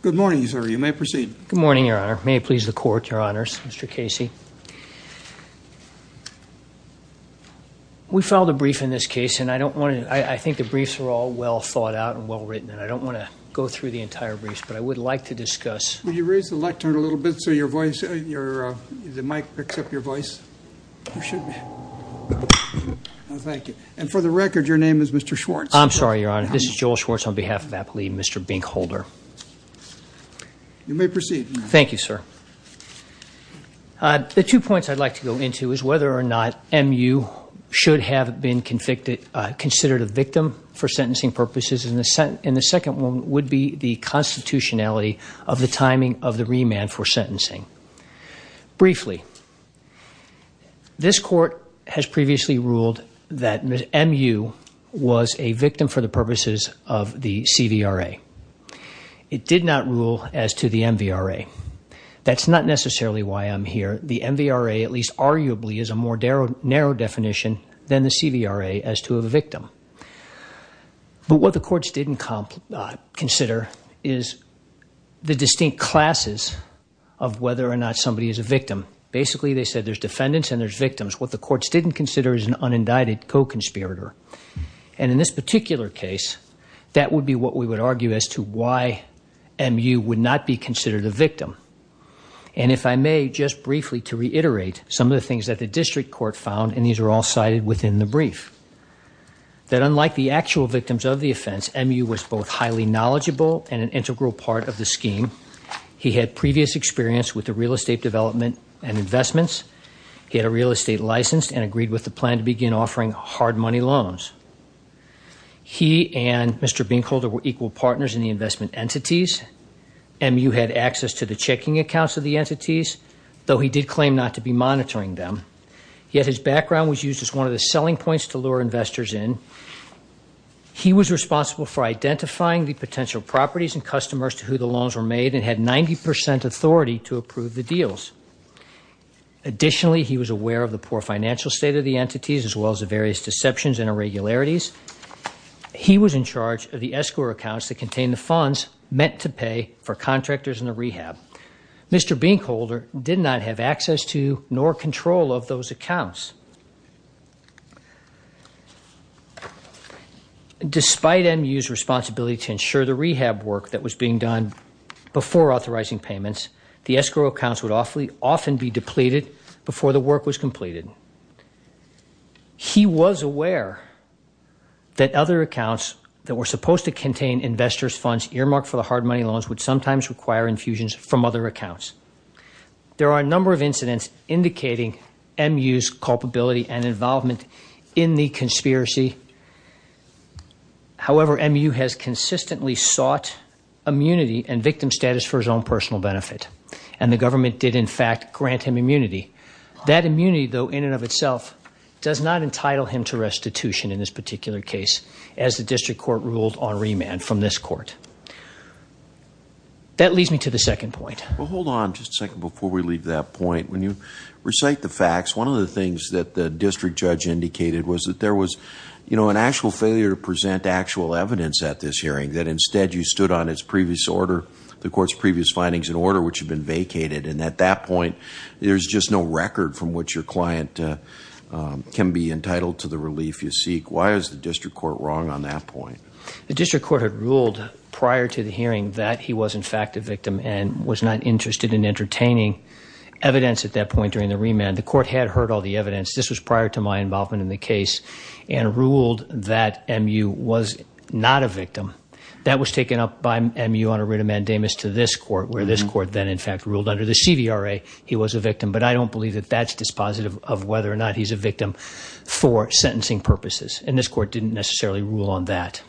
Good morning, Your Honor. May it please the Court, Your Honors, Mr. Casey. We filed a brief in this case, and I think the briefs are all well thought out and well written, and I don't want to go through the entire briefs, but I would like to discuss the two points I'd like to go into is whether or not MU should have been considered a victim for sentencing purposes, and the second one would be the constitutionality of the timing of the remand for sentencing. Briefly, this Court has previously ruled that MU was a victim for the purposes of the CVRA. It did not rule as to the MVRA. That's not necessarily why I'm here. The MVRA, at least arguably, is a more narrow definition than the CVRA as to a victim, but what the courts didn't consider is the distinct classes of whether or not somebody is a victim. Basically, they said there's defendants and there's victims. What the courts didn't consider is an unindicted co-conspirator, and in this particular case, that would be what we would argue as to why MU would not be considered a victim, and if I may, just briefly to reiterate some of the things that the district court found, and these are all cited within the brief, that unlike the actual victims of the offense, MU was both highly knowledgeable and an integral part of the scheme. He had previous experience with the real estate development and investments. He had a real estate license and agreed with the plan to begin offering hard money loans. He and Mr. Binkholder were equal partners in the investment entities. MU had access to the checking accounts of the entities, though he did claim not to be monitoring them, yet his background was used as one of the selling points to lure investors in. He was responsible for identifying the potential properties and customers to who the loans were made and had 90 percent authority to approve the deals. Additionally, he was aware of the poor financial state of the entities as well as the various deceptions and irregularities. He was in charge of the escrow accounts that did not have access to nor control of those accounts. Despite MU's responsibility to ensure the rehab work that was being done before authorizing payments, the escrow accounts would often be depleted before the work was completed. He was aware that other accounts that were supposed to contain investors' funds earmarked for the hard money loans would sometimes require infusions from other accounts. There are a number of incidents indicating MU's culpability and involvement in the conspiracy. However, MU has consistently sought immunity and victim status for his own personal benefit, and the government did, in fact, grant him immunity. That immunity, though, in and of itself does not entitle him to restitution in this particular case, as the district court ruled on remand from this court. That leads me to the second point. Well, hold on just a second before we leave that point. When you recite the facts, one of the things that the district judge indicated was that there was, you know, an actual failure to present actual evidence at this hearing, that instead you stood on its previous order, the court's previous findings in order, which had been vacated. And at that point, there's just no record from which your client can be entitled to the relief you seek. Why is the district court wrong on that point? The district court had ruled prior to the hearing that he was, in fact, a victim and was not interested in entertaining evidence at that point during the remand. The court had heard all the evidence. This was prior to my involvement in the case, and ruled that MU was not a victim. That was taken up by MU on a writ of mandamus to this court, where this court then, in fact, ruled under the CVRA he was a victim. But I don't believe that that's dispositive of whether or not he's a victim for sentencing purposes. And this court didn't necessarily rule on that.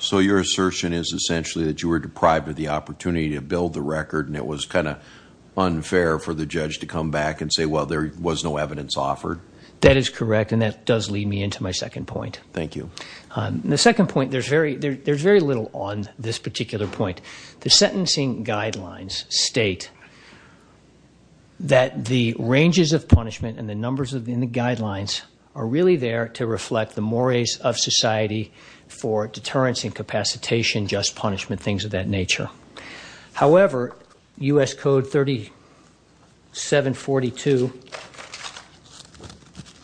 So your assertion is essentially that you were deprived of the opportunity to build the record and it was kind of unfair for the judge to come back and say, well, there was no evidence offered? That is correct. And that does lead me into my second point. Thank you. The second point, there's very little on this particular point. The sentencing guidelines state that the ranges of punishment and the numbers within the guidelines are really there to reflect the mores of society for deterrence, incapacitation, just punishment, things of that nature. However, U.S. Code 3742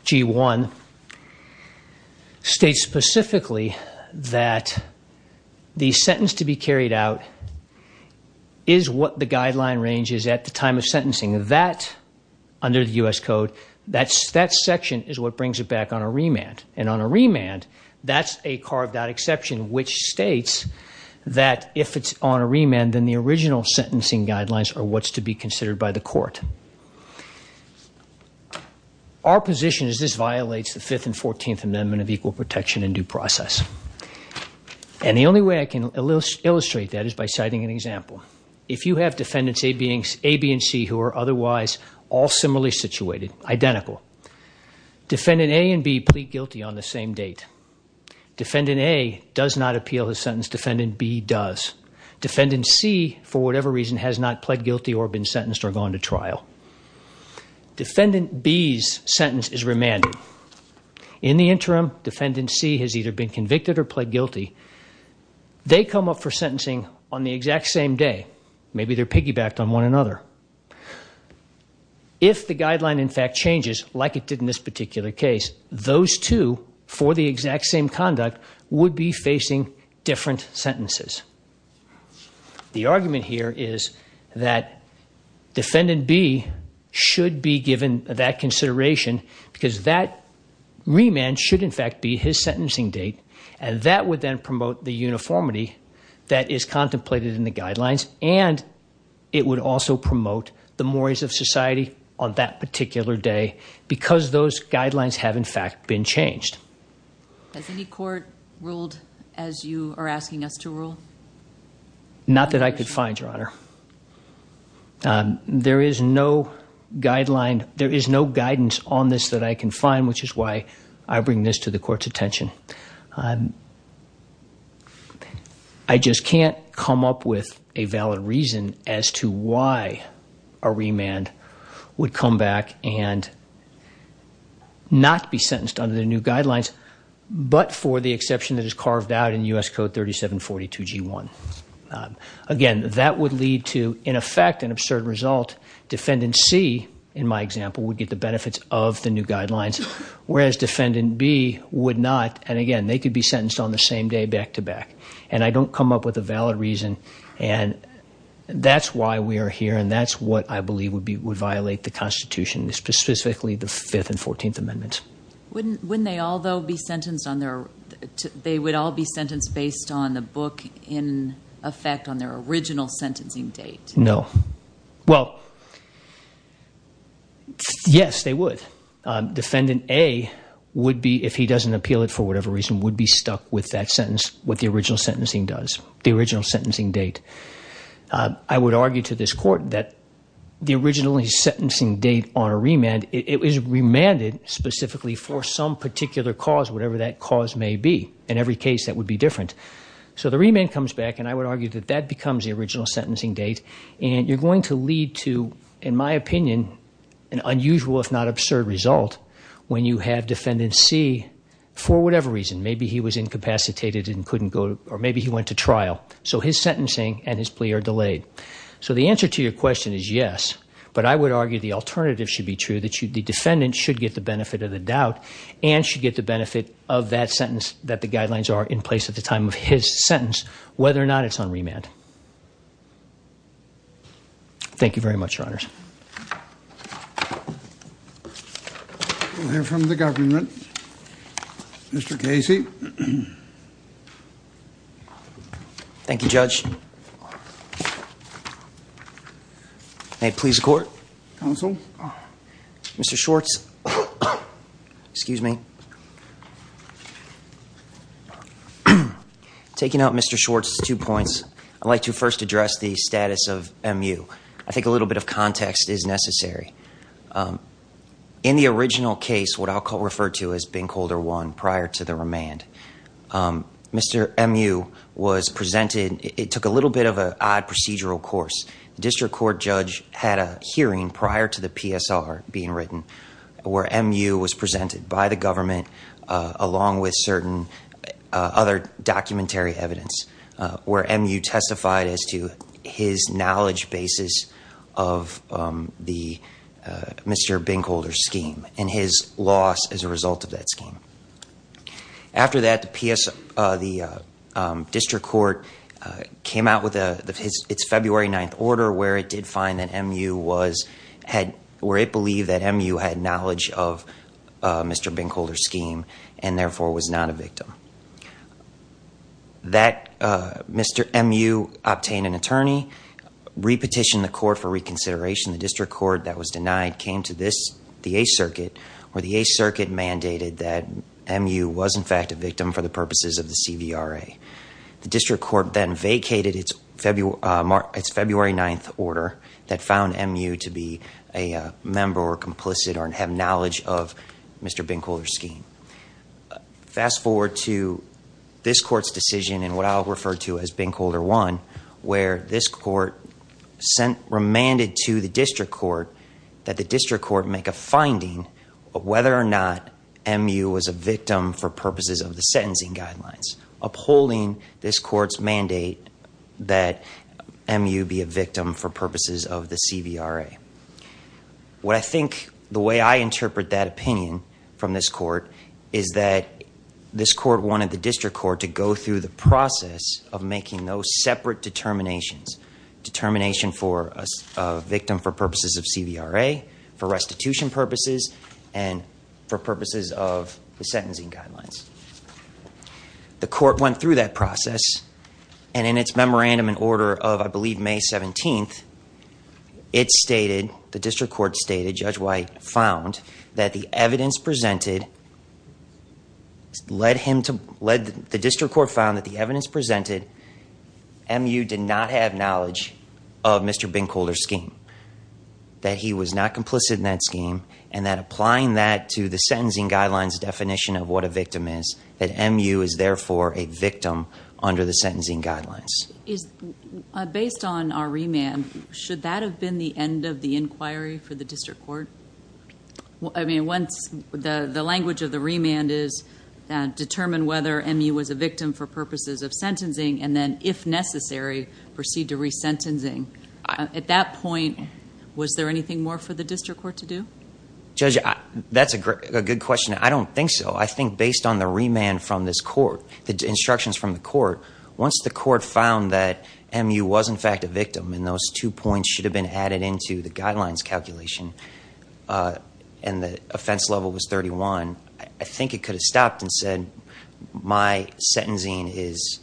G1 states specifically that the sentence to be carried out is what the guideline range is at the time of sentencing. That, under the U.S. Code, that section is what brings it back on a remand. And on a remand, that's a carved-out exception which states that if it's on a remand, then the original sentencing guidelines are what's to be considered by the court. Our position is this violates the 5th and 14th Amendment of Equal by citing an example. If you have defendants A, B, and C who are otherwise all similarly situated, identical, defendant A and B plead guilty on the same date. Defendant A does not appeal the sentence. Defendant B does. Defendant C, for whatever reason, has not pled guilty or been sentenced or gone to trial. Defendant B's sentence is remanded. In the interim, defendant C has either been convicted or pled guilty. They come up for sentencing on the exact same day. Maybe they're piggybacked on one another. If the guideline, in fact, changes like it did in this particular case, those two, for the exact same conduct, would be facing different sentences. The argument here is that defendant B should be given that consideration because that remand should, in fact, be his sentencing date, and that would then promote the uniformity that is contemplated in the guidelines, and it would also promote the mores of society on that particular day because those guidelines have, in fact, been changed. Has any court ruled as you are asking us to rule? Not that I could find, Your Honor. There is no guideline, there is no guidance on this that I can find, which is why I bring this to the court's attention. I just can't come up with a valid reason as to why a remand would come back and not be sentenced under the new guidelines, but for the exception that is carved out in U.S. Code 3742 G1. Again, that would lead to, in effect, an absurd result. Defendant C, in my example, would get the remand. Defendant B would not, and again, they could be sentenced on the same day back-to-back, and I don't come up with a valid reason. That's why we are here, and that's what I believe would violate the Constitution, specifically the 5th and 14th Amendments. Wouldn't they all, though, be sentenced on their, they would all be sentenced based on the book in effect on their original sentencing date? No. Well, yes, they would. Defendant A would be, if he doesn't appeal it for whatever reason, would be stuck with that sentence, what the original sentencing does, the original sentencing date. I would argue to this court that the original sentencing date on a remand, it is remanded specifically for some particular cause, whatever that cause may be. In every case, that would be different. So the remand comes back, and I would argue that that becomes the original sentencing date, and you're going to lead to, in my opinion, an unusual if not absurd result when you have Defendant C, for whatever reason, maybe he was incapacitated and couldn't go, or maybe he went to trial. So his sentencing and his plea are delayed. So the answer to your question is yes, but I would argue the alternative should be true, that the defendant should get the benefit of the doubt and should get the benefit of that sentence that the guidelines are in place at the time of his sentence, whether or not it's on remand. Thank you very much, Your Honors. We'll hear from the government. Mr. Casey. Thank you, Judge. May it please the Court? Counsel. Mr. Schwartz. Excuse me. Taking out Mr. Schwartz, two points. I'd like to first address the status of MU. I think a little bit of context is necessary. In the original case, what I'll call referred to as Ben Calder 1 prior to the remand, Mr. MU was presented, it took a little bit of an odd procedural course. The district court judge had a hearing prior to the PSR being written where MU was presented by the government along with certain other documentary evidence where MU testified as to his knowledge basis of the Mr. Ben Calder scheme and his loss as a result of that scheme. After that, the district court came out with its February 9th order where it did find that MU was, where it believed that MU had knowledge of Mr. Ben Calder's scheme and therefore was not a victim. That Mr. MU obtained an attorney, repetitioned the court for reconsideration. The district court that was denied came to this, the 8th Circuit, where the 8th Circuit mandated that MU was in fact a victim for the purposes of the CVRA. The district court then vacated its February 9th order that found MU to be a member or complicit or have knowledge of Mr. Ben Calder's scheme. Fast forward to this court's decision and what I'll refer to as Ben Calder 1 where this court sent, remanded to the district court that the district court make a finding of whether or not MU was a victim for the sentencing guidelines, upholding this court's mandate that MU be a victim for purposes of the CVRA. What I think, the way I interpret that opinion from this court is that this court wanted the district court to go through the process of making those separate determinations, determination for a victim for purposes of CVRA, for restitution purposes, and for purposes of the sentencing guidelines. The court went through that process and in its memorandum in order of I believe May 17th, it stated, the district court stated, Judge White found that the evidence presented led him to, led the district court found that the evidence presented, MU did not have knowledge of Mr. Ben Calder's scheme. That he was not complicit in that scheme and that applying that to the victim is that MU is therefore a victim under the sentencing guidelines. Based on our remand, should that have been the end of the inquiry for the district court? I mean once the language of the remand is determined whether MU was a victim for purposes of sentencing and then if necessary proceed to re-sentencing, at that point was there anything more for the district court to do? Judge, that's a good question. I don't think so. I think based on the remand from this court, the instructions from the court, once the court found that MU was in fact a victim and those two points should have been added into the guidelines calculation and the offense level was 31, I think it could have stopped and said my sentencing is,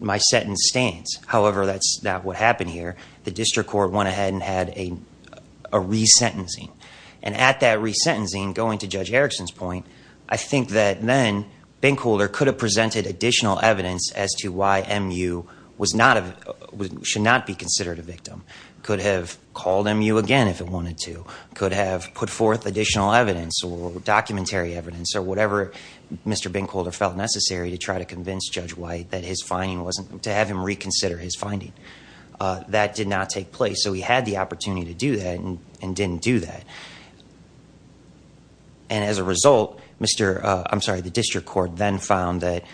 my sentence stands. However, that's not what happened here. The district court went ahead and had a re-sentencing and at that re-sentencing, going to Judge Erickson's point, I think that then Ben Calder could have presented additional evidence as to why MU was not, should not be considered a victim. Could have called MU again if it wanted to. Could have put forth additional evidence or documentary evidence or whatever Mr. Ben Calder felt necessary to try to convince Judge White that his finding wasn't, to have him reconsider his finding. That did not take place, so he had the opportunity to do that and didn't do that. And as a result, Mr., I'm sorry, the district court then found that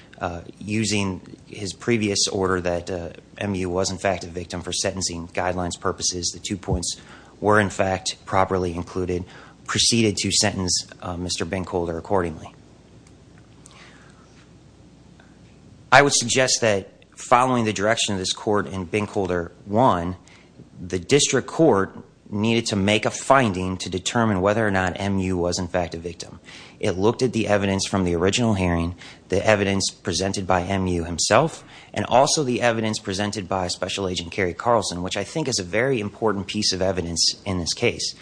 using his previous order that MU was in fact a victim for sentencing guidelines purposes, the two points were in fact properly included, proceeded to sentence Mr. Ben Calder accordingly. I would suggest that following the direction of this court and Ben Calder, one, the district court needed to make a finding to determine whether or not MU was in fact a victim. It looked at the evidence from the original hearing, the evidence presented by MU himself, and also the evidence presented by Special Agent Kerry Carlson, which I think is a very important piece of evidence in this case.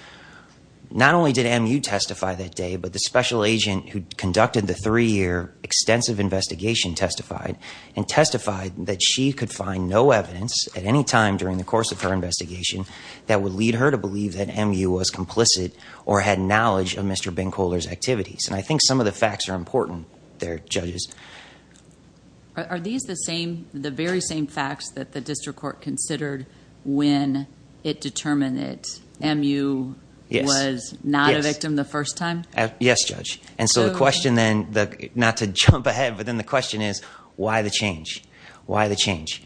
Not only did MU testify that day, but the special agent who got the evidence, conducted the three-year extensive investigation, testified and testified that she could find no evidence at any time during the course of her investigation that would lead her to believe that MU was complicit or had knowledge of Mr. Ben Calder's activities. And I think some of the facts are important there, judges. Are these the same, the very same facts that the district court considered when it determined that MU was not a victim the first time? Yes, judge. And so the question then, not to jump ahead, but then the question is why the change? Why the change?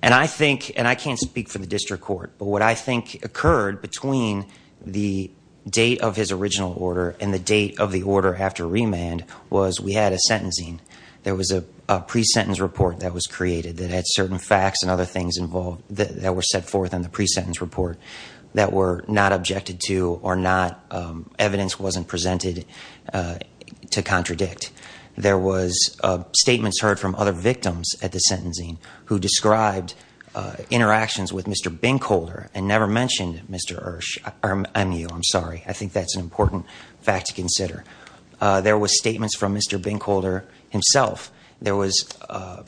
And I think, and I can't speak for the district court, but what I think occurred between the date of his original order and the date of the order after remand was we had a sentencing. There was a pre-sentence report that was created that had certain facts and other things involved that were set forth in the pre-sentence report that were not objected to or not, evidence wasn't presented to contradict. There was statements heard from other victims at the sentencing who described interactions with Mr. Ben Calder and never mentioned Mr. Ersh, MU, I'm sorry. I think that's an important fact to consider. There was statements from Mr. Ben Calder himself. There was a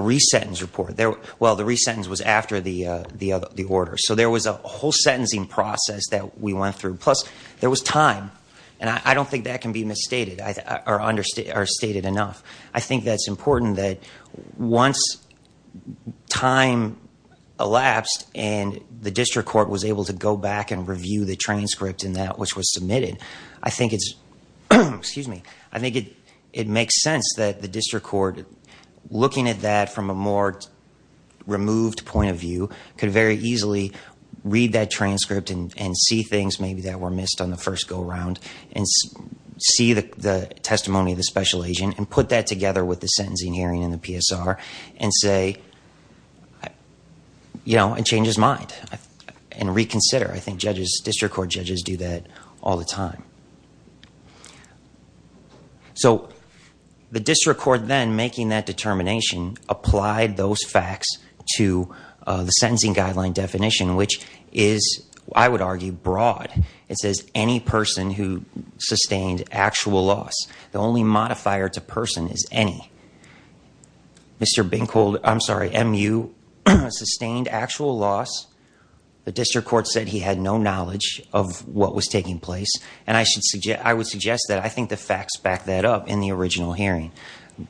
re-sentence report. Well, the re-sentence was after the order. So there was a whole sentencing process that we went through. Plus there was time. And I don't think that can be misstated or stated enough. I think that's important that once time elapsed and the district court was able to go back and review the transcript and that which was submitted, I think it's, excuse me, I think it makes sense that the district court looking at that from a more removed point of view could very easily read that transcript and see things maybe that were missed on the first go around and see the testimony of the special agent and put that together with the sentencing hearing in the PSR and say, you know, and change his mind and reconsider. I think judges, district court judges do that all the time. So the district court then making that determination applied those facts to the sentencing guideline definition, which is, I would argue, broad. It says, any person who sustained actual loss. The only modifier to person is any. Mr. Ben Calder, I'm sorry, MU sustained actual loss. The district court said he had no knowledge of what was taking place. And I would suggest that I think the facts back that up in the original hearing.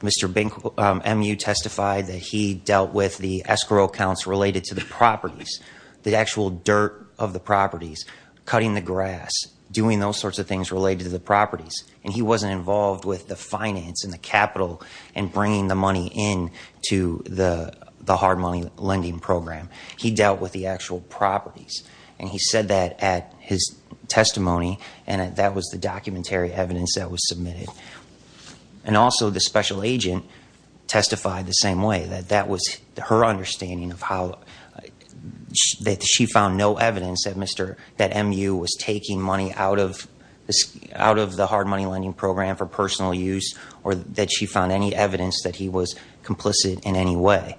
Mr. Ben, MU testified that he dealt with the escrow counts related to the properties, the actual dirt of the properties, cutting the grass, doing those sorts of things related to the properties. And he wasn't involved with the finance and the capital and bringing the money in to the hard money lending program. He dealt with the actual properties and he said that at his special agent testified the same way that that was her understanding of how that she found no evidence that Mr. that MU was taking money out of this out of the hard money lending program for personal use or that she found any evidence that he was complicit in any way.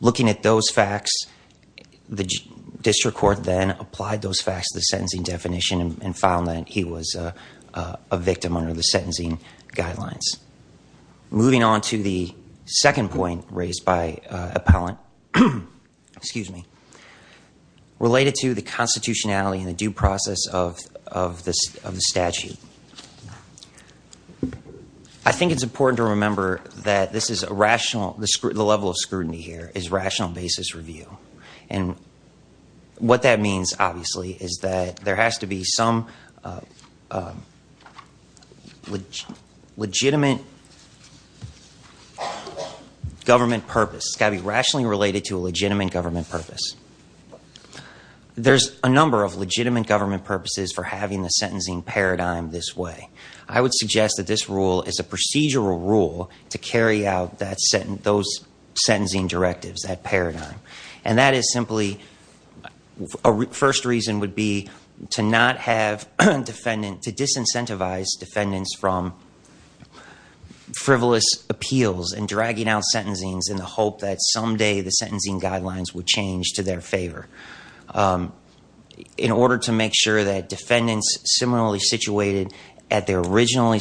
Looking at those facts, the district court then applied those facts to the sentencing definition and found that he was a victim under the sentencing guidelines. Moving on to the second point raised by appellant, excuse me, related to the constitutionality and the due process of the statute. I think it's important to remember that this is a rational, the level of scrutiny here is rational basis review. And what that means obviously is that there has to be some legitimate government purpose. It's got to be rationally related to a legitimate government purpose. There's a number of legitimate government purposes for having the sentencing paradigm this way. I would suggest that this rule is a procedural rule to carry out those sentencing directives, that paradigm. And that is simply, a first reason would be to not have defendant, to disincentivize defendants from frivolous appeals and dragging out sentencings in the hope that someday the sentencing guidelines would change to their favor. In order to make sure that defendants similarly situated at their original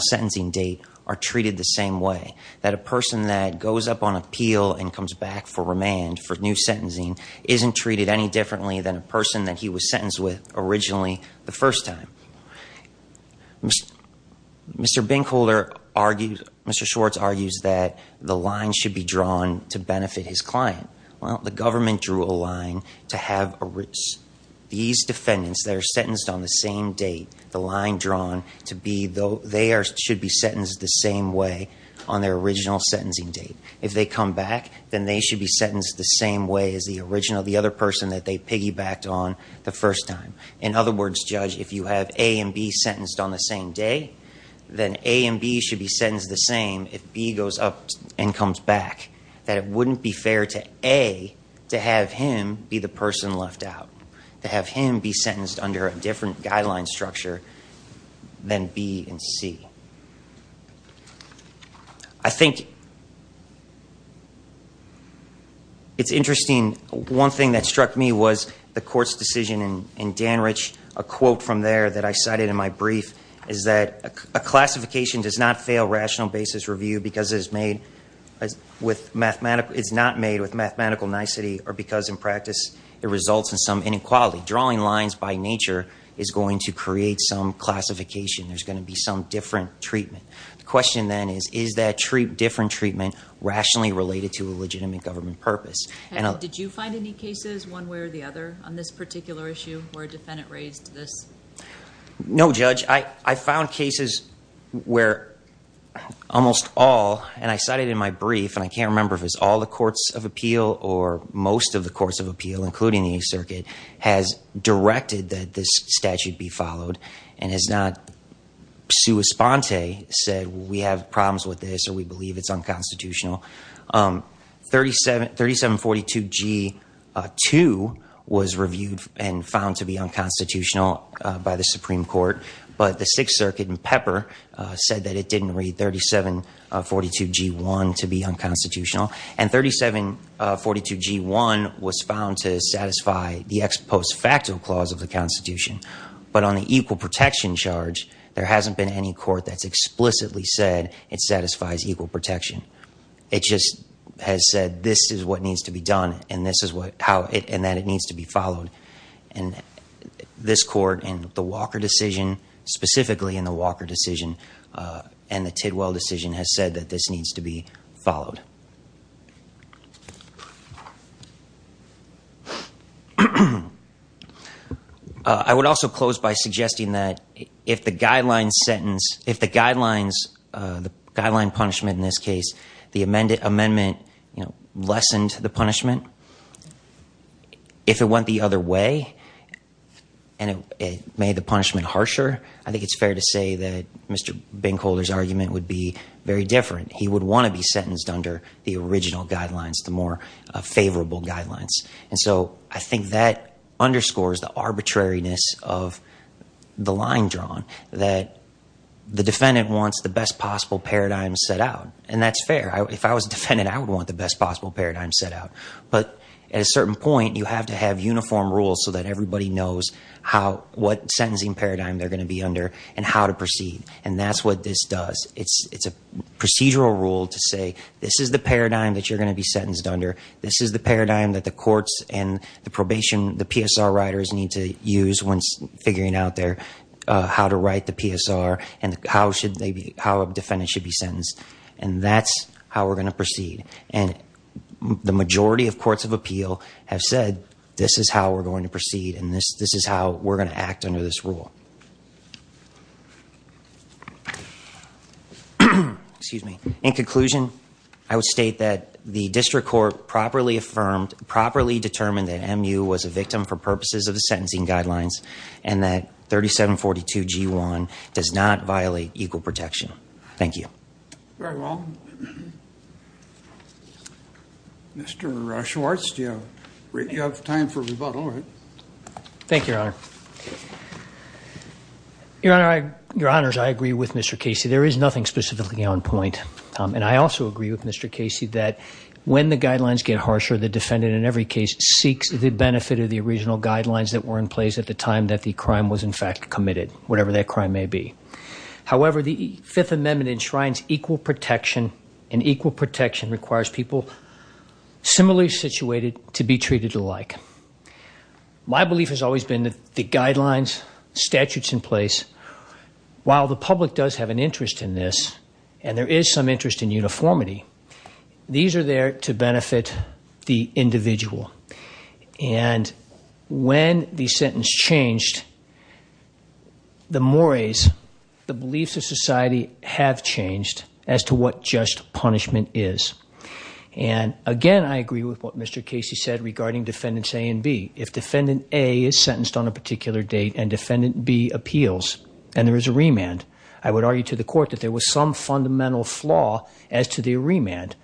sentencing date are treated the same way, that a person that goes up on appeal and comes back for remand for new sentencing isn't treated any differently than a person that he was sentenced with originally the first time. Mr. Binkholder argues, Mr. Schwartz argues that the line should be drawn to benefit his client. Well, the government drew a line to have these defendants that are sentenced on the same date, the line drawn to be, they should be sentenced the same way as the original, the other person that they piggybacked on the first time. In other words, Judge, if you have A and B sentenced on the same day, then A and B should be sentenced the same if B goes up and comes back, that it wouldn't be fair to A to have him be the person left out, to have him be sentenced under a different guideline structure than B and C. I think it's interesting, one thing that struck me was the court's decision in Danrich, a quote from there that I cited in my brief is that a classification does not fail rational basis review because it is made with mathematical, it's not made with mathematical nicety or because in practice it results in some inequality. Drawing lines by nature is going to create some classification, there's going to be some different treatment. The question then is, is that different treatment rationally related to a legitimate government purpose? Did you find any cases one way or the other on this particular issue where a defendant raised this? No, Judge. I found cases where almost all, and I cited in my brief, and I can't remember if it's all the courts of appeal or most of the courts of appeal, including the Eighth Circuit, has directed that this statute be followed and has not sui sponte said we have problems with this or we believe it's unconstitutional. 3742G2 was reviewed and found to be unconstitutional by the Supreme Court, but the Sixth Circuit in Pepper said that it didn't read 3742G1 to be the Constitution, but on the equal protection charge, there hasn't been any court that's explicitly said it satisfies equal protection. It just has said this is what needs to be done and that it needs to be followed. And this court in the Walker decision, specifically in the Walker decision and the Tidwell decision has said that this needs to be I would also close by suggesting that if the guidelines sentence, if the guidelines, the guideline punishment in this case, the amendment lessened the punishment, if it went the other way and it made the punishment harsher, I think it's fair to say that Mr. Binkholder's argument would be very different. He would want to be sentenced under the original guidelines, the more favorable guidelines. And so I think that underscores the arbitrariness of the line drawn that the defendant wants the best possible paradigm set out. And that's fair. If I was a defendant, I would want the best possible paradigm set out. But at a certain point, you have to have uniform rules so that everybody knows what sentencing paradigm they're going to be under and how to proceed. And that's what this to say, this is the paradigm that you're going to be sentenced under. This is the paradigm that the courts and the probation, the PSR writers need to use when figuring out there how to write the PSR and how should they be, how a defendant should be sentenced. And that's how we're going to proceed. And the majority of courts of appeal have said, this is how we're going to proceed. This is how we're going to act under this rule. Excuse me. In conclusion, I would state that the district court properly affirmed, properly determined that MU was a victim for purposes of the sentencing guidelines and that 3742G1 does not violate equal protection. Thank you. Very well. Mr. Schwartz, do you have time for rebuttal? Thank you, Your Honor. Your Honors, I agree with Mr. Casey. There is nothing specifically on point. And I also agree with Mr. Casey that when the guidelines get harsher, the defendant in every case seeks the benefit of the original guidelines that were in place at the time that the crime was My belief has always been that the guidelines, statutes in place, while the public does have an interest in this, and there is some interest in uniformity, these are there to benefit the individual. And when the sentence changed, the mores, the beliefs of society have changed as to what just punishment is. And again, I agree with what Mr. Casey said regarding defendants A and B. If defendant A is sentenced on a particular date and defendant B appeals and there is a remand, I would argue to the court that there was some fundamental flaw as to the remand.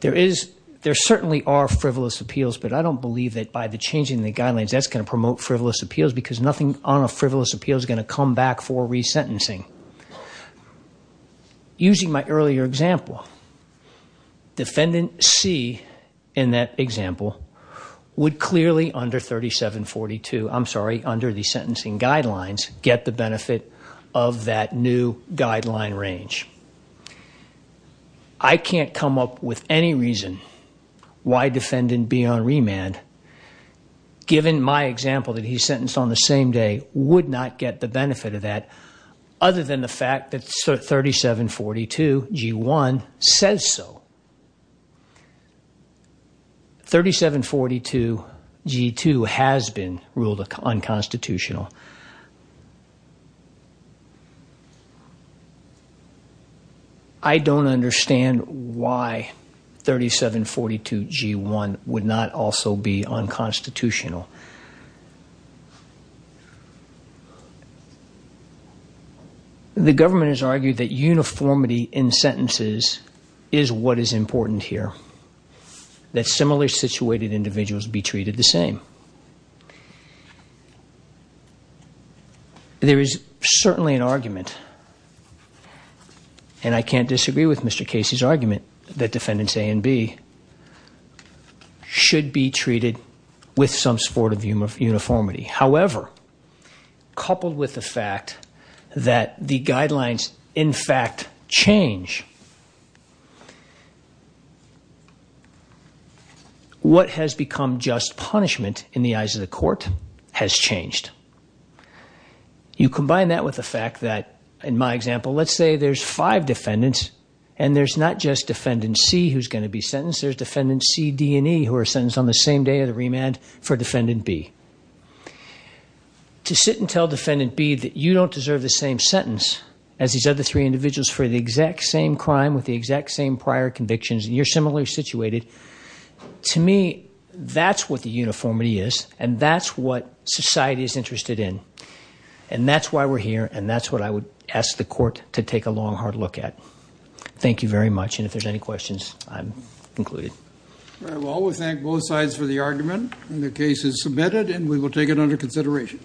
There certainly are frivolous appeals, but I don't believe that by the changing the guidelines, that's going to promote frivolous because nothing on a frivolous appeal is going to come back for resentencing. Using my earlier example, defendant C in that example would clearly under 3742, I'm sorry, under the sentencing guidelines, get the benefit of that new guideline range. I can't come up with any reason why defendant B on remand, given my example that he's sentenced on the same day, would not get the benefit of that other than the fact that 3742 G1 says so. 3742 G2 has been ruled unconstitutional. I don't understand why 3742 G1 would not also be unconstitutional. The government has argued that uniformity in sentences is what is important here, that similarly situated individuals be treated the same. There is certainly an argument, and I can't disagree with Mr. Casey's argument, that defendants A and B should be treated with some sport of uniformity. However, coupled with the fact that the guidelines, in fact, change, what has become just punishment in the eyes of the court has changed. You combine that with the fact that, in my example, let's say there's five defendants and there's not just defendant C who's going to be sentenced. There's defendant C, D, and E, who are sentenced on the same day of the remand for defendant B. To sit and tell defendant B that you don't deserve the same sentence as these other three individuals for the exact same crime with the exact same prior convictions, and you're similarly situated, to me, that's what the uniformity is, and that's what society is interested in. And that's why we're here, and that's what I would ask the court to take a long, hard look at. Thank you very much, and if there's any questions, I'm included. All right, well, we thank both sides for the argument, and the case is submitted, and we will take it under consideration.